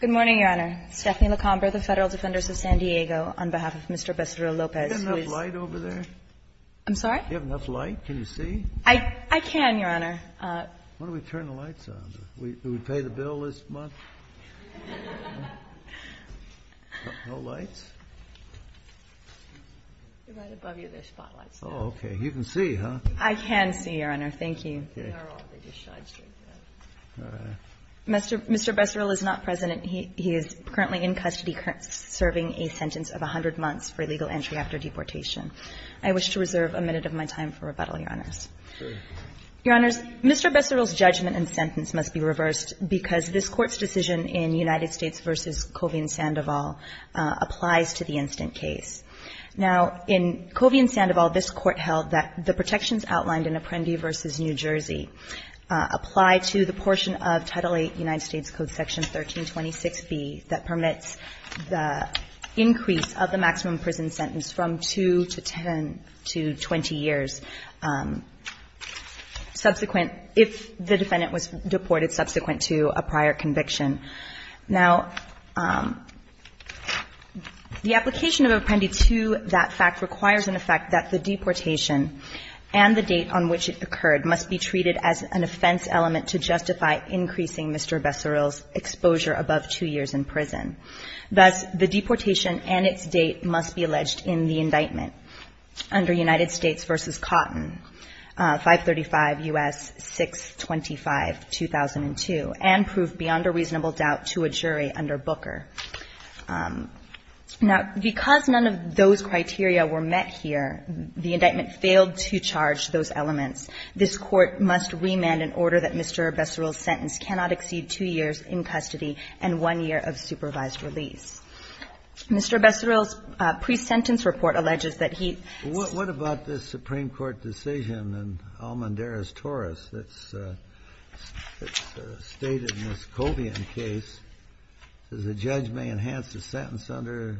Good morning, Your Honor. Stephanie LaComber, the Federal Defenders of San Diego, on behalf of Mr. Becerril-Lopez. Do you have enough light over there? I'm sorry? Do you have enough light? Can you see? I can, Your Honor. Why don't we turn the lights on? Do we pay the bill this month? No lights? Right above you, there's spotlights. Oh, okay. You can see, huh? I can see, Your Honor. Thank you. They are on. They just shine straight through. Mr. Becerril is not present. He is currently in custody serving a sentence of 100 months for illegal entry after deportation. I wish to reserve a minute of my time for rebuttal, Your Honors. Sure. Your Honors, Mr. Becerril's judgment and sentence must be reversed because this Court's decision in United States v. Covina-Sandoval applies to the instant case. Now, in Covina-Sandoval, this Court held that the protections outlined in Apprendi v. New Jersey apply to the portion of Title VIII United States Code Section 1326B that permits the increase of the maximum prison sentence from 2 to 10 to 20 years subsequent if the defendant was deported subsequent to a prior conviction. Now, the application of Apprendi to that fact requires, in effect, that the deportation and the date on which it occurred must be treated as an offense element to justify increasing Mr. Becerril's exposure above 2 years in prison. Thus, the deportation and its date must be alleged in the indictment under United States v. Cotton, 535 U.S. 625-2002, and prove beyond a reasonable doubt to a jury under Booker. Now, because none of those criteria were met here, the indictment failed to charge those elements. This Court must remand in order that Mr. Becerril's sentence cannot exceed 2 years in custody and 1 year of supervised release. Mr. Becerril's pre-sentence report alleges that he ---- Kennedy, what about this Supreme Court decision in Almendarez-Torres that's stated in this Covian case that the judge may enhance the sentence under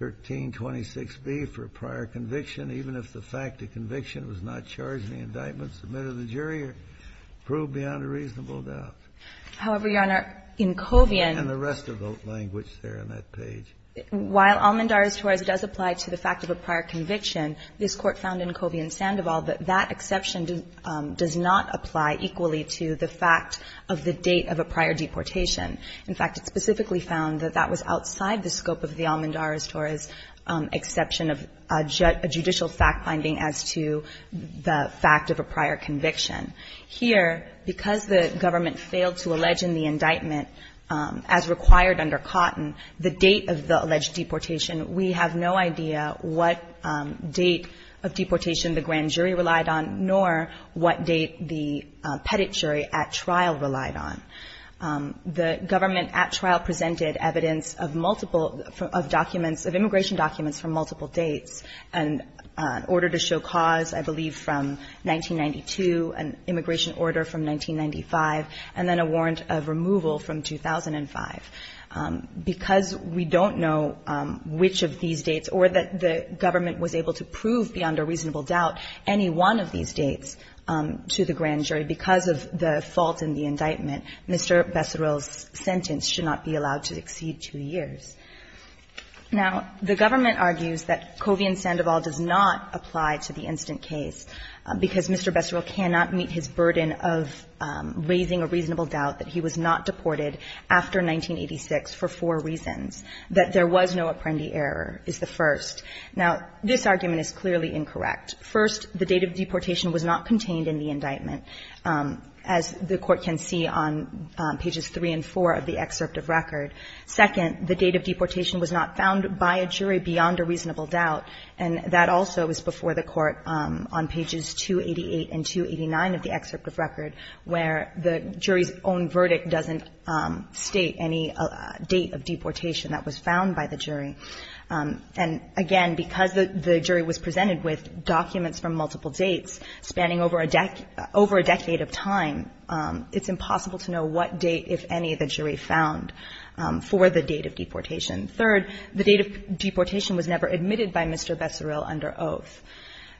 1326b for a prior conviction even if the fact the conviction was not charged in the indictment submitted to the jury or proved beyond a reasonable doubt? However, Your Honor, in Covian ---- And the rest of the language there on that page. While Almendarez-Torres does apply to the fact of a prior conviction, this Court found in Covian-Sandoval that that exception does not apply equally to the fact of the date of a prior deportation. In fact, it specifically found that that was outside the scope of the Almendarez-Torres exception of a judicial fact-finding as to the fact of a prior conviction. Here, because the government failed to allege in the indictment, as required under Cotton, the date of the alleged deportation, we have no idea what date of deportation the grand jury relied on, nor what date the petit jury at trial relied on. The government at trial presented evidence of multiple ---- of documents, of immigration documents from multiple dates, an order to show cause, I believe, from 1992, an immigration order from 1995, and then a warrant of removal from 2005. Because we don't know which of these dates or that the government was able to prove beyond a reasonable doubt any one of these dates to the grand jury, because of the fault in the indictment, Mr. Besserell's sentence should not be allowed to exceed two years. Now, the government argues that Covian-Sandoval does not apply to the instant case because Mr. Besserell cannot meet his burden of raising a reasonable doubt that he was not deported after 1986 for four reasons. That there was no Apprendi error is the first. Now, this argument is clearly incorrect. First, the date of deportation was not contained in the indictment, as the Court can see on pages 3 and 4 of the excerpt of record. Second, the date of deportation was not found by a jury beyond a reasonable doubt, and that also is before the Court on pages 288 and 289 of the excerpt of record, where the jury's own verdict doesn't state any date of deportation that was found by the jury. And again, because the jury was presented with documents from multiple dates spanning over a decade of time, it's impossible to know what date, if any, the jury found for the date of deportation. Third, the date of deportation was never admitted by Mr. Besserell under oath.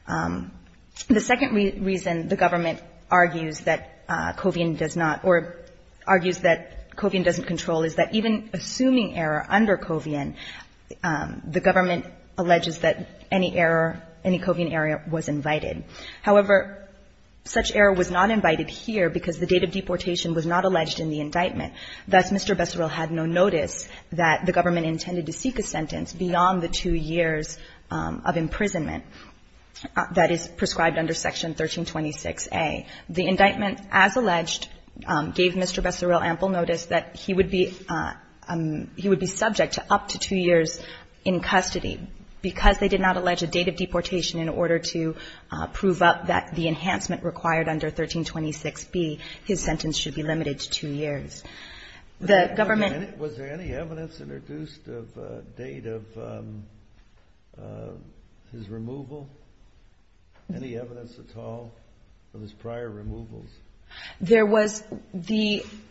The second reason the government argues that Covian does not or argues that Covian doesn't control is that even assuming error under Covian, the government alleges that any error, any Covian error was invited. However, such error was not invited here because the date of deportation was not alleged in the indictment. Thus, Mr. Besserell had no notice that the government intended to seek a sentence beyond the two years of imprisonment that is prescribed under Section 1326a. The indictment, as alleged, gave Mr. Besserell ample notice that he would be subject to up to two years in custody. Because they did not allege a date of deportation in order to prove up that the enhancement required under 1326b, his sentence should be limited to two years. The government ---- There was the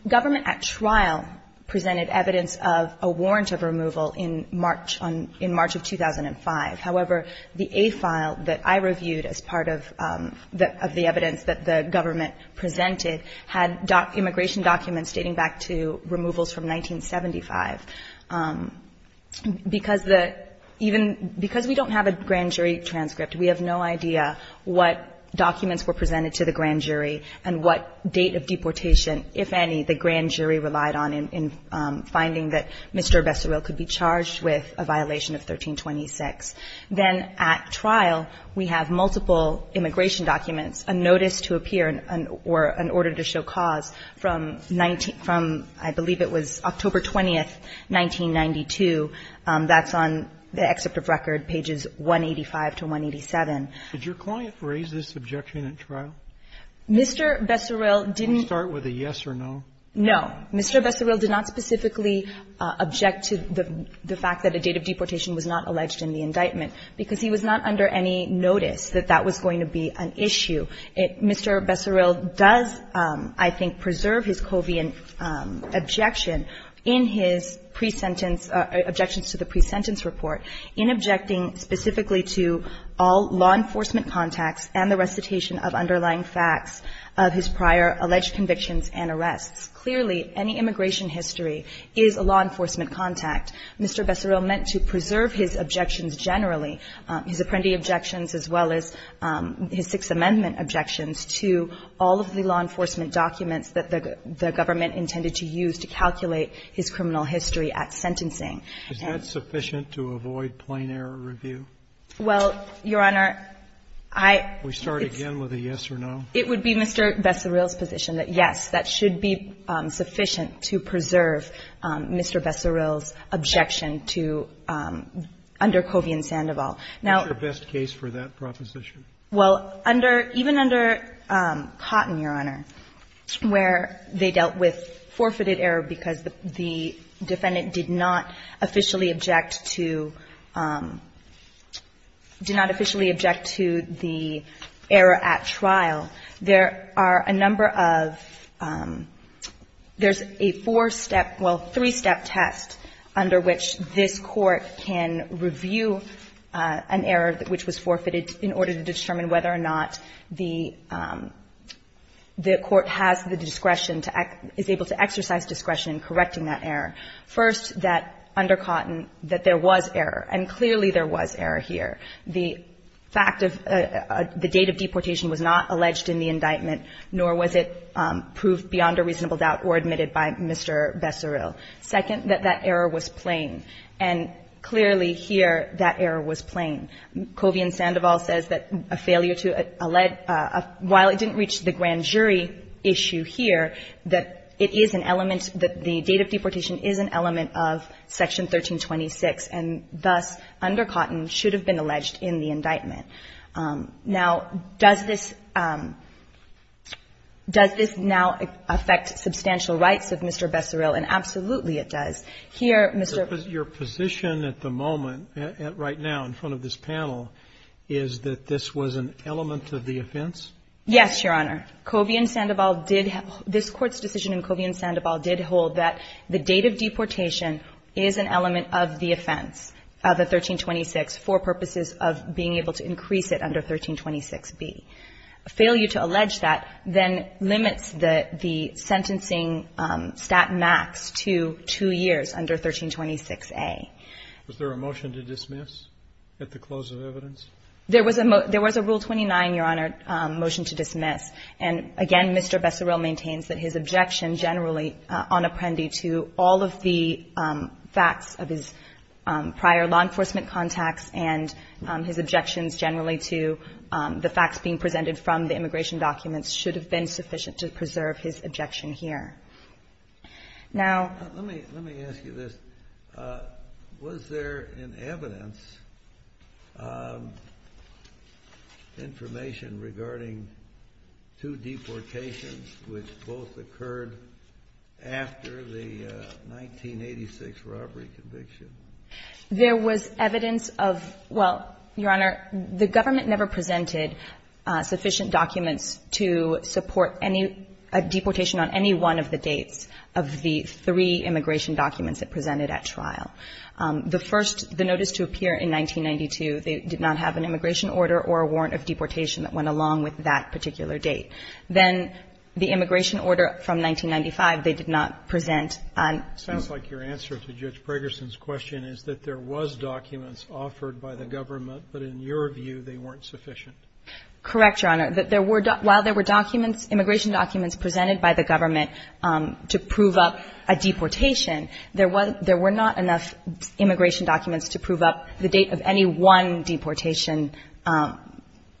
government at trial presented evidence of a warrant of removal in March on ---- in March of 2005. However, the A file that I reviewed as part of the evidence that the government presented had immigration documents dating back to removals from 1975. Because the ---- even because we don't have a grand jury transcript, we have no idea what documents were presented to the grand jury and what date of deportation, if any, the grand jury relied on in finding that Mr. Besserell could be charged with a violation of 1326. Then at trial, we have multiple immigration documents, a notice to appear or an order to show cause from 19 ---- from, I believe it was October 20, 1992. That's on the excerpt of record, pages 185 to 187. Did your client raise this objection at trial? Mr. Besserell didn't ---- Can we start with a yes or no? No. Mr. Besserell did not specifically object to the fact that a date of deportation was not alleged in the indictment because he was not under any notice that that was going to be an issue. Mr. Besserell does, I think, preserve his coviant objection in his pre-sentence report in objecting specifically to all law enforcement contacts and the recitation of underlying facts of his prior alleged convictions and arrests. Clearly, any immigration history is a law enforcement contact. Mr. Besserell meant to preserve his objections generally, his Apprendi objections as well as his Sixth Amendment objections, to all of the law enforcement documents that the government intended to use to calculate his criminal history at sentencing. Is that sufficient to avoid plain error review? Well, Your Honor, I ---- Can we start again with a yes or no? It would be Mr. Besserell's position that, yes, that should be sufficient to preserve Mr. Besserell's objection to under coviant Sandoval. Now ---- What's your best case for that proposition? Well, under ---- even under Cotton, Your Honor, where they dealt with forfeited error because the defendant did not officially object to ---- did not officially object to the error at trial, there are a number of ---- there's a four-step ---- well, three-step test under which this Court can review an error which was forfeited in order to determine whether or not the court has the discretion to act ---- is able to exercise discretion in correcting that error. First, that under Cotton that there was error, and clearly there was error here. The fact of the date of deportation was not alleged in the indictment, nor was it proved beyond a reasonable doubt or admitted by Mr. Besserell. Second, that that error was plain, and clearly here that error was plain. Covian-Sandoval says that a failure to ---- while it didn't reach the grand jury issue here, that it is an element, that the date of deportation is an element of Section 1326, and thus under Cotton should have been alleged in the indictment. Now, does this ---- does this now affect substantial rights of Mr. Besserell? Here, Mr. ---- Your position at the moment, right now in front of this panel, is that this was an element of the offense? Yes, Your Honor. Covian-Sandoval did ---- this Court's decision in Covian-Sandoval did hold that the date of deportation is an element of the offense, the 1326, for purposes of being able to increase it under 1326b. Failure to allege that then limits the sentencing stat max to two years under 1326a. Was there a motion to dismiss at the close of evidence? There was a rule 29, Your Honor, motion to dismiss. And again, Mr. Besserell maintains that his objection generally on Apprendi to all of the facts of his prior law enforcement contacts and his objections generally to the facts being presented from the immigration documents should have been sufficient to preserve his objection here. Now ---- Let me ask you this. Was there in evidence information regarding two deportations which both occurred after the 1986 robbery conviction? There was evidence of ---- well, Your Honor, the government never presented sufficient immigration documents to support any ---- a deportation on any one of the dates of the three immigration documents that presented at trial. The first, the notice to appear in 1992, they did not have an immigration order or a warrant of deportation that went along with that particular date. Then the immigration order from 1995, they did not present on ---- Correct, Your Honor. There were ---- while there were documents, immigration documents presented by the government to prove up a deportation, there was ---- there were not enough immigration documents to prove up the date of any one deportation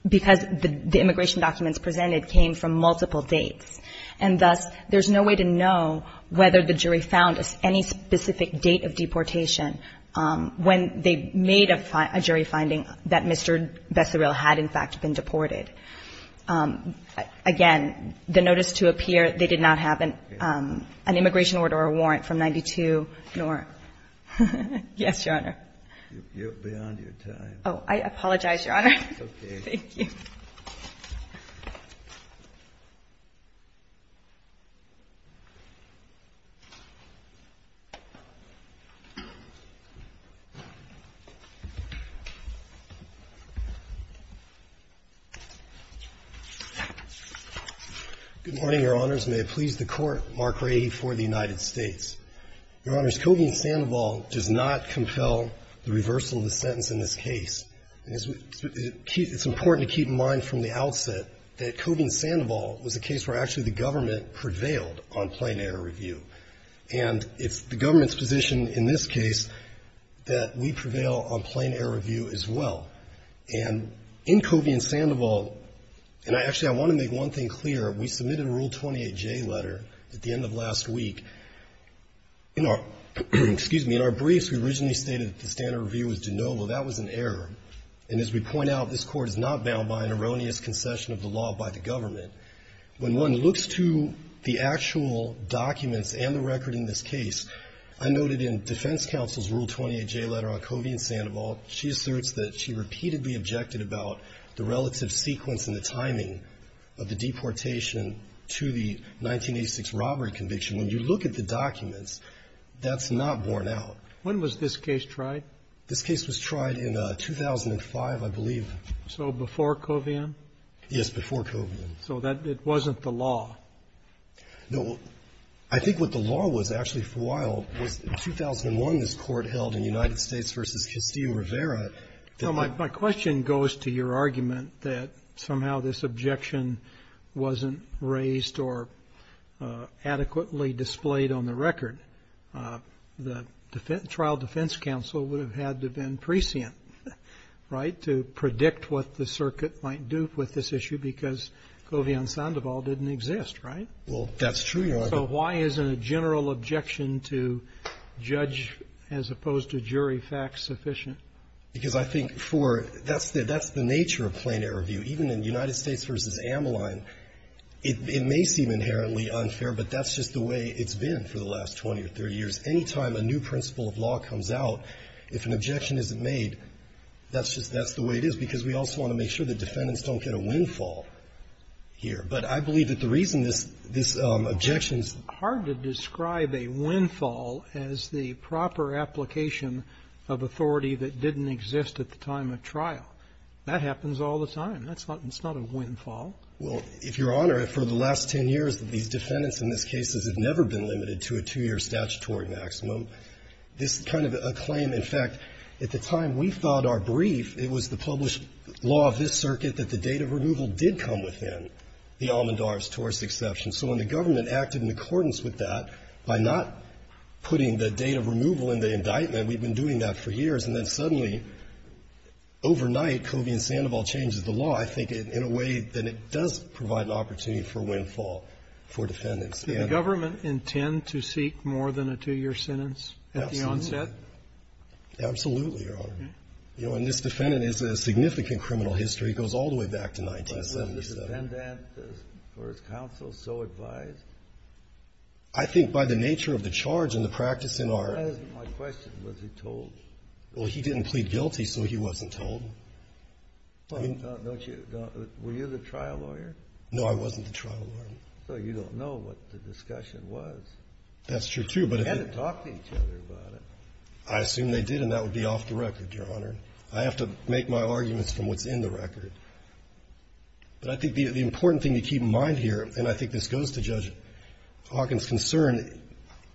because the immigration documents presented came from multiple dates. And thus, there's no way to know whether the jury found any specific date of deportation when they made a jury finding that Mr. Besserill had, in fact, been deported. Again, the notice to appear, they did not have an immigration order or warrant from 1992 nor ---- Yes, Your Honor. You're beyond your time. Oh, I apologize, Your Honor. That's okay. Thank you. Good morning, Your Honors. May it please the Court. Mark Rady for the United States. Your Honors, Kogin-Sandoval does not compel the reversal of the sentence in this that Kogin-Sandoval was a case where actually the government prevailed on plain-error review. And it's the government's position in this case that we prevail on plain-error review as well. And in Kogin-Sandoval, and actually, I want to make one thing clear. We submitted a Rule 28J letter at the end of last week. In our ---- excuse me. In our briefs, we originally stated that the standard review was de novo. That was an error. And as we point out, this Court is not bound by an erroneous concession of the law by the government. When one looks to the actual documents and the record in this case, I noted in Defense Counsel's Rule 28J letter on Kogin-Sandoval, she asserts that she repeatedly objected about the relative sequence and the timing of the deportation to the 1986 robbery conviction. When you look at the documents, that's not borne out. When was this case tried? This case was tried in 2005, I believe. So before Kogin? Yes, before Kogin. So it wasn't the law? No. I think what the law was, actually, for a while, was in 2001, this Court held in United States v. Castillo Rivera that the ---- My question goes to your argument that somehow this objection wasn't raised or adequately displayed on the record. The trial defense counsel would have had to have been prescient, right, to predict what the circuit might do with this issue because Kogin-Sandoval didn't exist, right? Well, that's true. So why isn't a general objection to judge as opposed to jury fact sufficient? Because I think for ---- that's the nature of plain error view. Even in United States v. Ameline, it may seem inherently unfair, but that's just the way it's been for the last 20 or 30 years. Any time a new principle of law comes out, if an objection isn't made, that's just the way it is because we also want to make sure that defendants don't get a windfall here. But I believe that the reason this objection is ---- It's hard to describe a windfall as the proper application of authority that didn't exist at the time of trial. That happens all the time. That's not a windfall. Well, if Your Honor, for the last 10 years, these defendants in these cases have never been limited to a two-year statutory maximum. This is kind of a claim. In fact, at the time we thought our brief, it was the published law of this circuit that the date of removal did come within the Almand-Darves-Torres exception. So when the government acted in accordance with that by not putting the date of removal in the indictment, we've been doing that for years, and then suddenly, overnight, Kogin-Sandoval changes the law. I think in a way that it does provide an opportunity for windfall for defendants. And the government intend to seek more than a two-year sentence at the onset? Absolutely. Absolutely, Your Honor. And this defendant has a significant criminal history. It goes all the way back to 1977. Was the defendant, for his counsel, so advised? I think by the nature of the charge and the practice in our ---- That isn't my question. Was he told? Well, he didn't plead guilty, so he wasn't told. Well, don't you ---- Were you the trial lawyer? No, I wasn't the trial lawyer. Well, you don't know what the discussion was. That's true, too, but ---- They had to talk to each other about it. I assume they did, and that would be off the record, Your Honor. I have to make my arguments from what's in the record. But I think the important thing to keep in mind here, and I think this goes to Judge Kogin's concern,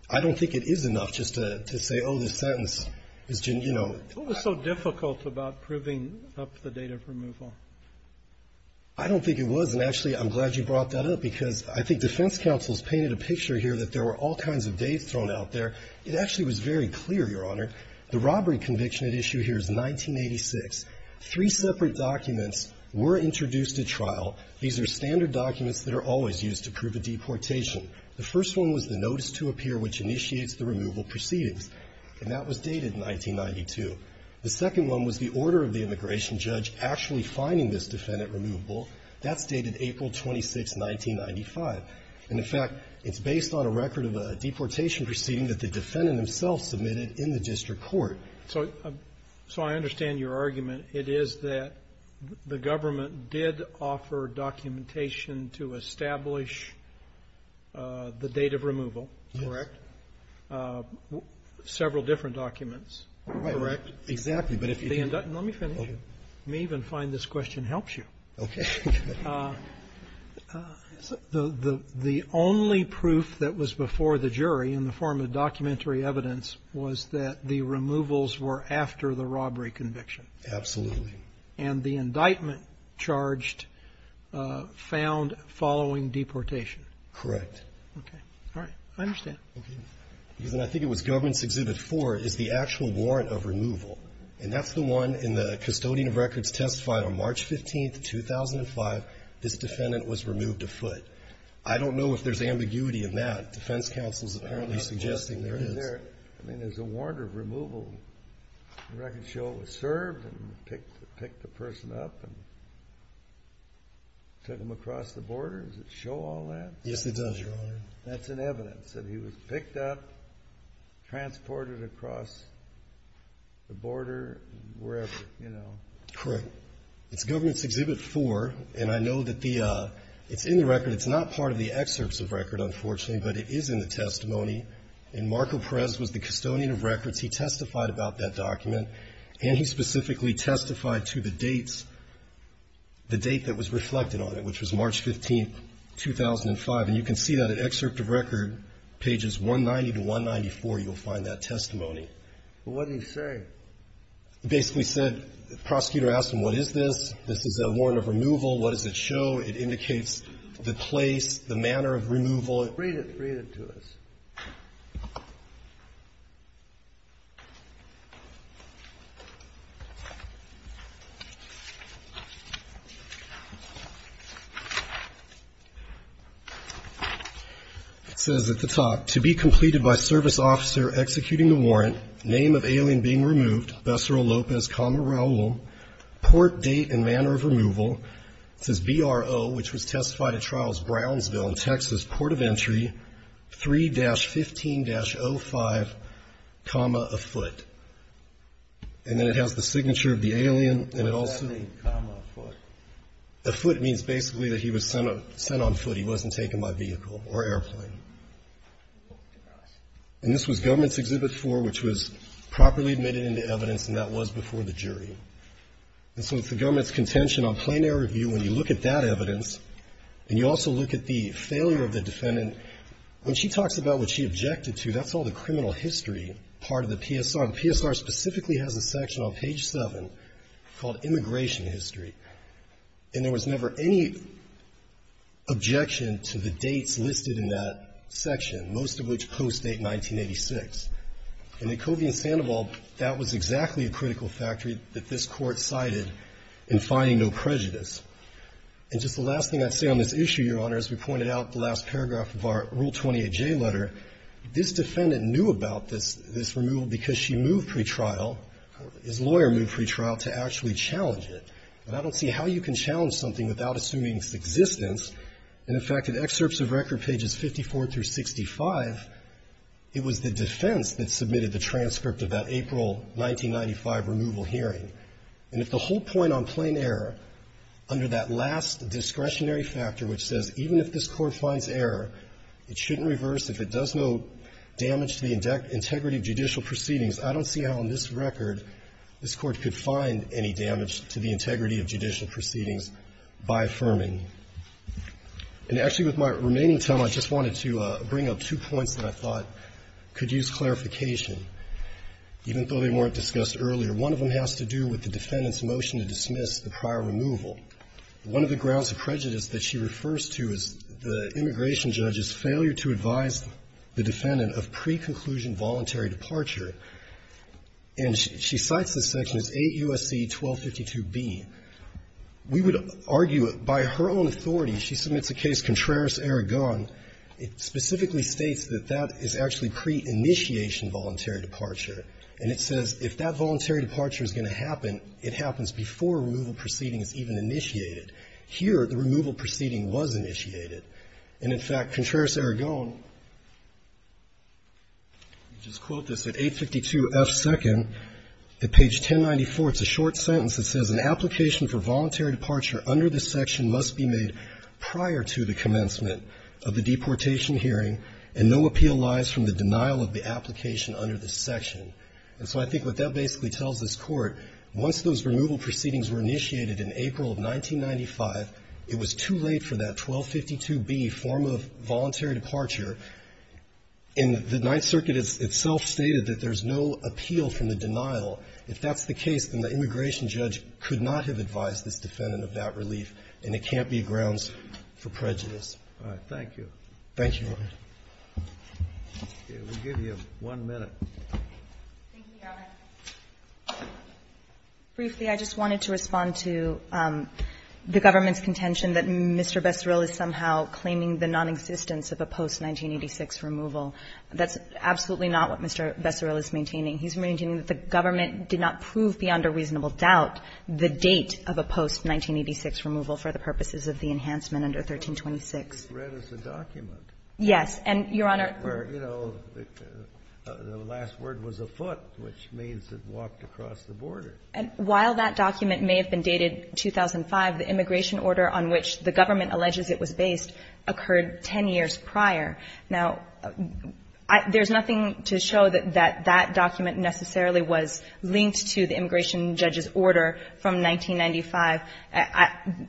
I don't think it is enough just to say, oh, this sentence is, you know ---- What was so difficult about proving up the date of removal? I don't think it was. And actually, I'm glad you brought that up, because I think defense counsel has painted a picture here that there were all kinds of dates thrown out there. It actually was very clear, Your Honor. The robbery conviction at issue here is 1986. Three separate documents were introduced at trial. These are standard documents that are always used to prove a deportation. The first one was the notice to appear which initiates the removal proceedings, and that was dated 1992. The second one was the order of the immigration judge actually finding this defendant removable. That's dated April 26, 1995. And, in fact, it's based on a record of a deportation proceeding that the defendant himself submitted in the district court. So I understand your argument. It is that the government did offer documentation to establish the date of removal, correct? Yes. Several different documents. Correct. Exactly. Let me finish. You may even find this question helps you. Okay. The only proof that was before the jury in the form of documentary evidence was that the removals were after the robbery conviction. Absolutely. And the indictment charged found following deportation. Correct. Okay. All right. I understand. Okay. I think it was Government's Exhibit 4 is the actual warrant of removal. And that's the one in the custodian of records testified on March 15, 2005, this defendant was removed afoot. I don't know if there's ambiguity in that. Defense counsel is apparently suggesting there is. I mean, there's a warrant of removal. The record shows it was served and picked the person up and took them across the border. Does it show all that? Yes, it does, Your Honor. That's an evidence that he was picked up, transported across the border, wherever, you know. Correct. It's Government's Exhibit 4. And I know that it's in the record. It's not part of the excerpts of record, unfortunately, but it is in the testimony. And Marco Perez was the custodian of records. He testified about that document. And he specifically testified to the date that was reflected on it, which was March 15, 2005. And you can see that in excerpt of record, pages 190 to 194, you'll find that testimony. But what did he say? He basically said the prosecutor asked him, what is this? This is a warrant of removal. What does it show? It indicates the place, the manner of removal. Read it. Read it to us. It says at the top, to be completed by service officer executing the warrant, name of alien being removed, Becero Lopez, Raul, port, date, and manner of removal. It says BRO, which was testified at trials Brownsville and Texas, port of entry, 3-15-05, a foot. And then it has the signature of the alien. And it also. A foot means basically that he was sent on foot. He wasn't taken by vehicle or airplane. And this was Government's Exhibit 4, which was properly admitted into evidence, and that was before the jury. And so it's the Government's contention on plain air review when you look at that evidence, and you also look at the failure of the defendant. When she talks about what she objected to, that's all the criminal history part of the PSR. The PSR specifically has a section on page 7 called Immigration History, and there was never any objection to the dates listed in that section, most of which post-date 1986. And in Covey and Sandoval, that was exactly a critical factor that this Court cited in finding no prejudice. And just the last thing I'd say on this issue, Your Honor, as we pointed out in the last paragraph of our Rule 28J letter, this defendant knew about this removal because she moved pretrial, his lawyer moved pretrial to actually challenge it. And I don't see how you can challenge something without assuming its existence. And, in fact, in excerpts of record pages 54 through 65, it was the defense that submitted the transcript of that April 1995 removal hearing. And if the whole point on plain error under that last discretionary factor which says even if this Court finds error, it shouldn't reverse, if it does no damage to the integrity of judicial proceedings, I don't see how in this record this Court could find any damage to the integrity of judicial proceedings by affirming. And actually with my remaining time, I just wanted to bring up two points that I thought could use clarification, even though they weren't discussed earlier. One of them has to do with the defendant's motion to dismiss the prior removal. One of the grounds of prejudice that she refers to is the immigration judge's failure to advise the defendant of preconclusion voluntary departure. And she cites this section as 8 U.S.C. 1252b. We would argue by her own authority, she submits a case, Contreras-Aragon. It specifically states that that is actually pre-initiation voluntary departure. And it says if that voluntary departure is going to happen, it happens before removal proceeding is even initiated. Here, the removal proceeding was initiated. And, in fact, Contreras-Aragon, just quote this, at 852 F. 2nd, at page 1094, it's a short sentence that says, an application for voluntary departure under this section must be made prior to the commencement of the deportation hearing, and no appeal lies from the denial of the section. And so I think what that basically tells this Court, once those removal proceedings were initiated in April of 1995, it was too late for that 1252b form of voluntary departure. And the Ninth Circuit itself stated that there's no appeal from the denial. If that's the case, then the immigration judge could not have advised this defendant of that relief, and it can't be grounds for prejudice. Thank you. Thank you, Your Honor. We'll give you one minute. Thank you, Your Honor. Briefly, I just wanted to respond to the government's contention that Mr. Bessaril is somehow claiming the nonexistence of a post-1986 removal. That's absolutely not what Mr. Bessaril is maintaining. He's maintaining that the government did not prove beyond a reasonable doubt the date of a post-1986 removal for the purposes of the enhancement under 1326. It's read as a document. Yes. And, Your Honor we're, you know, the last word was a foot, which means it walked across the border. And while that document may have been dated 2005, the immigration order on which the government alleges it was based occurred 10 years prior. Now, there's nothing to show that that document necessarily was linked to the immigration judge's order from 1995.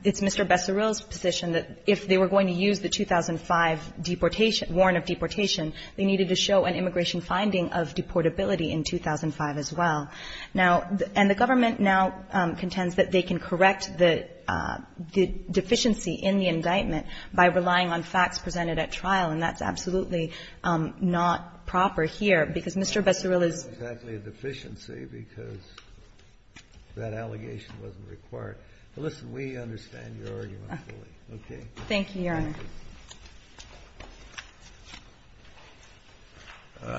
It's Mr. Bessaril's position that if they were going to use the 2005 deportation warn of deportation, they needed to show an immigration finding of deportability in 2005 as well. Now, and the government now contends that they can correct the deficiency in the indictment by relying on facts presented at trial, and that's absolutely not proper here because Mr. Bessaril is. It's not exactly a deficiency because that allegation wasn't required. But listen, we understand your argument fully. Okay. Thank you, Your Honor.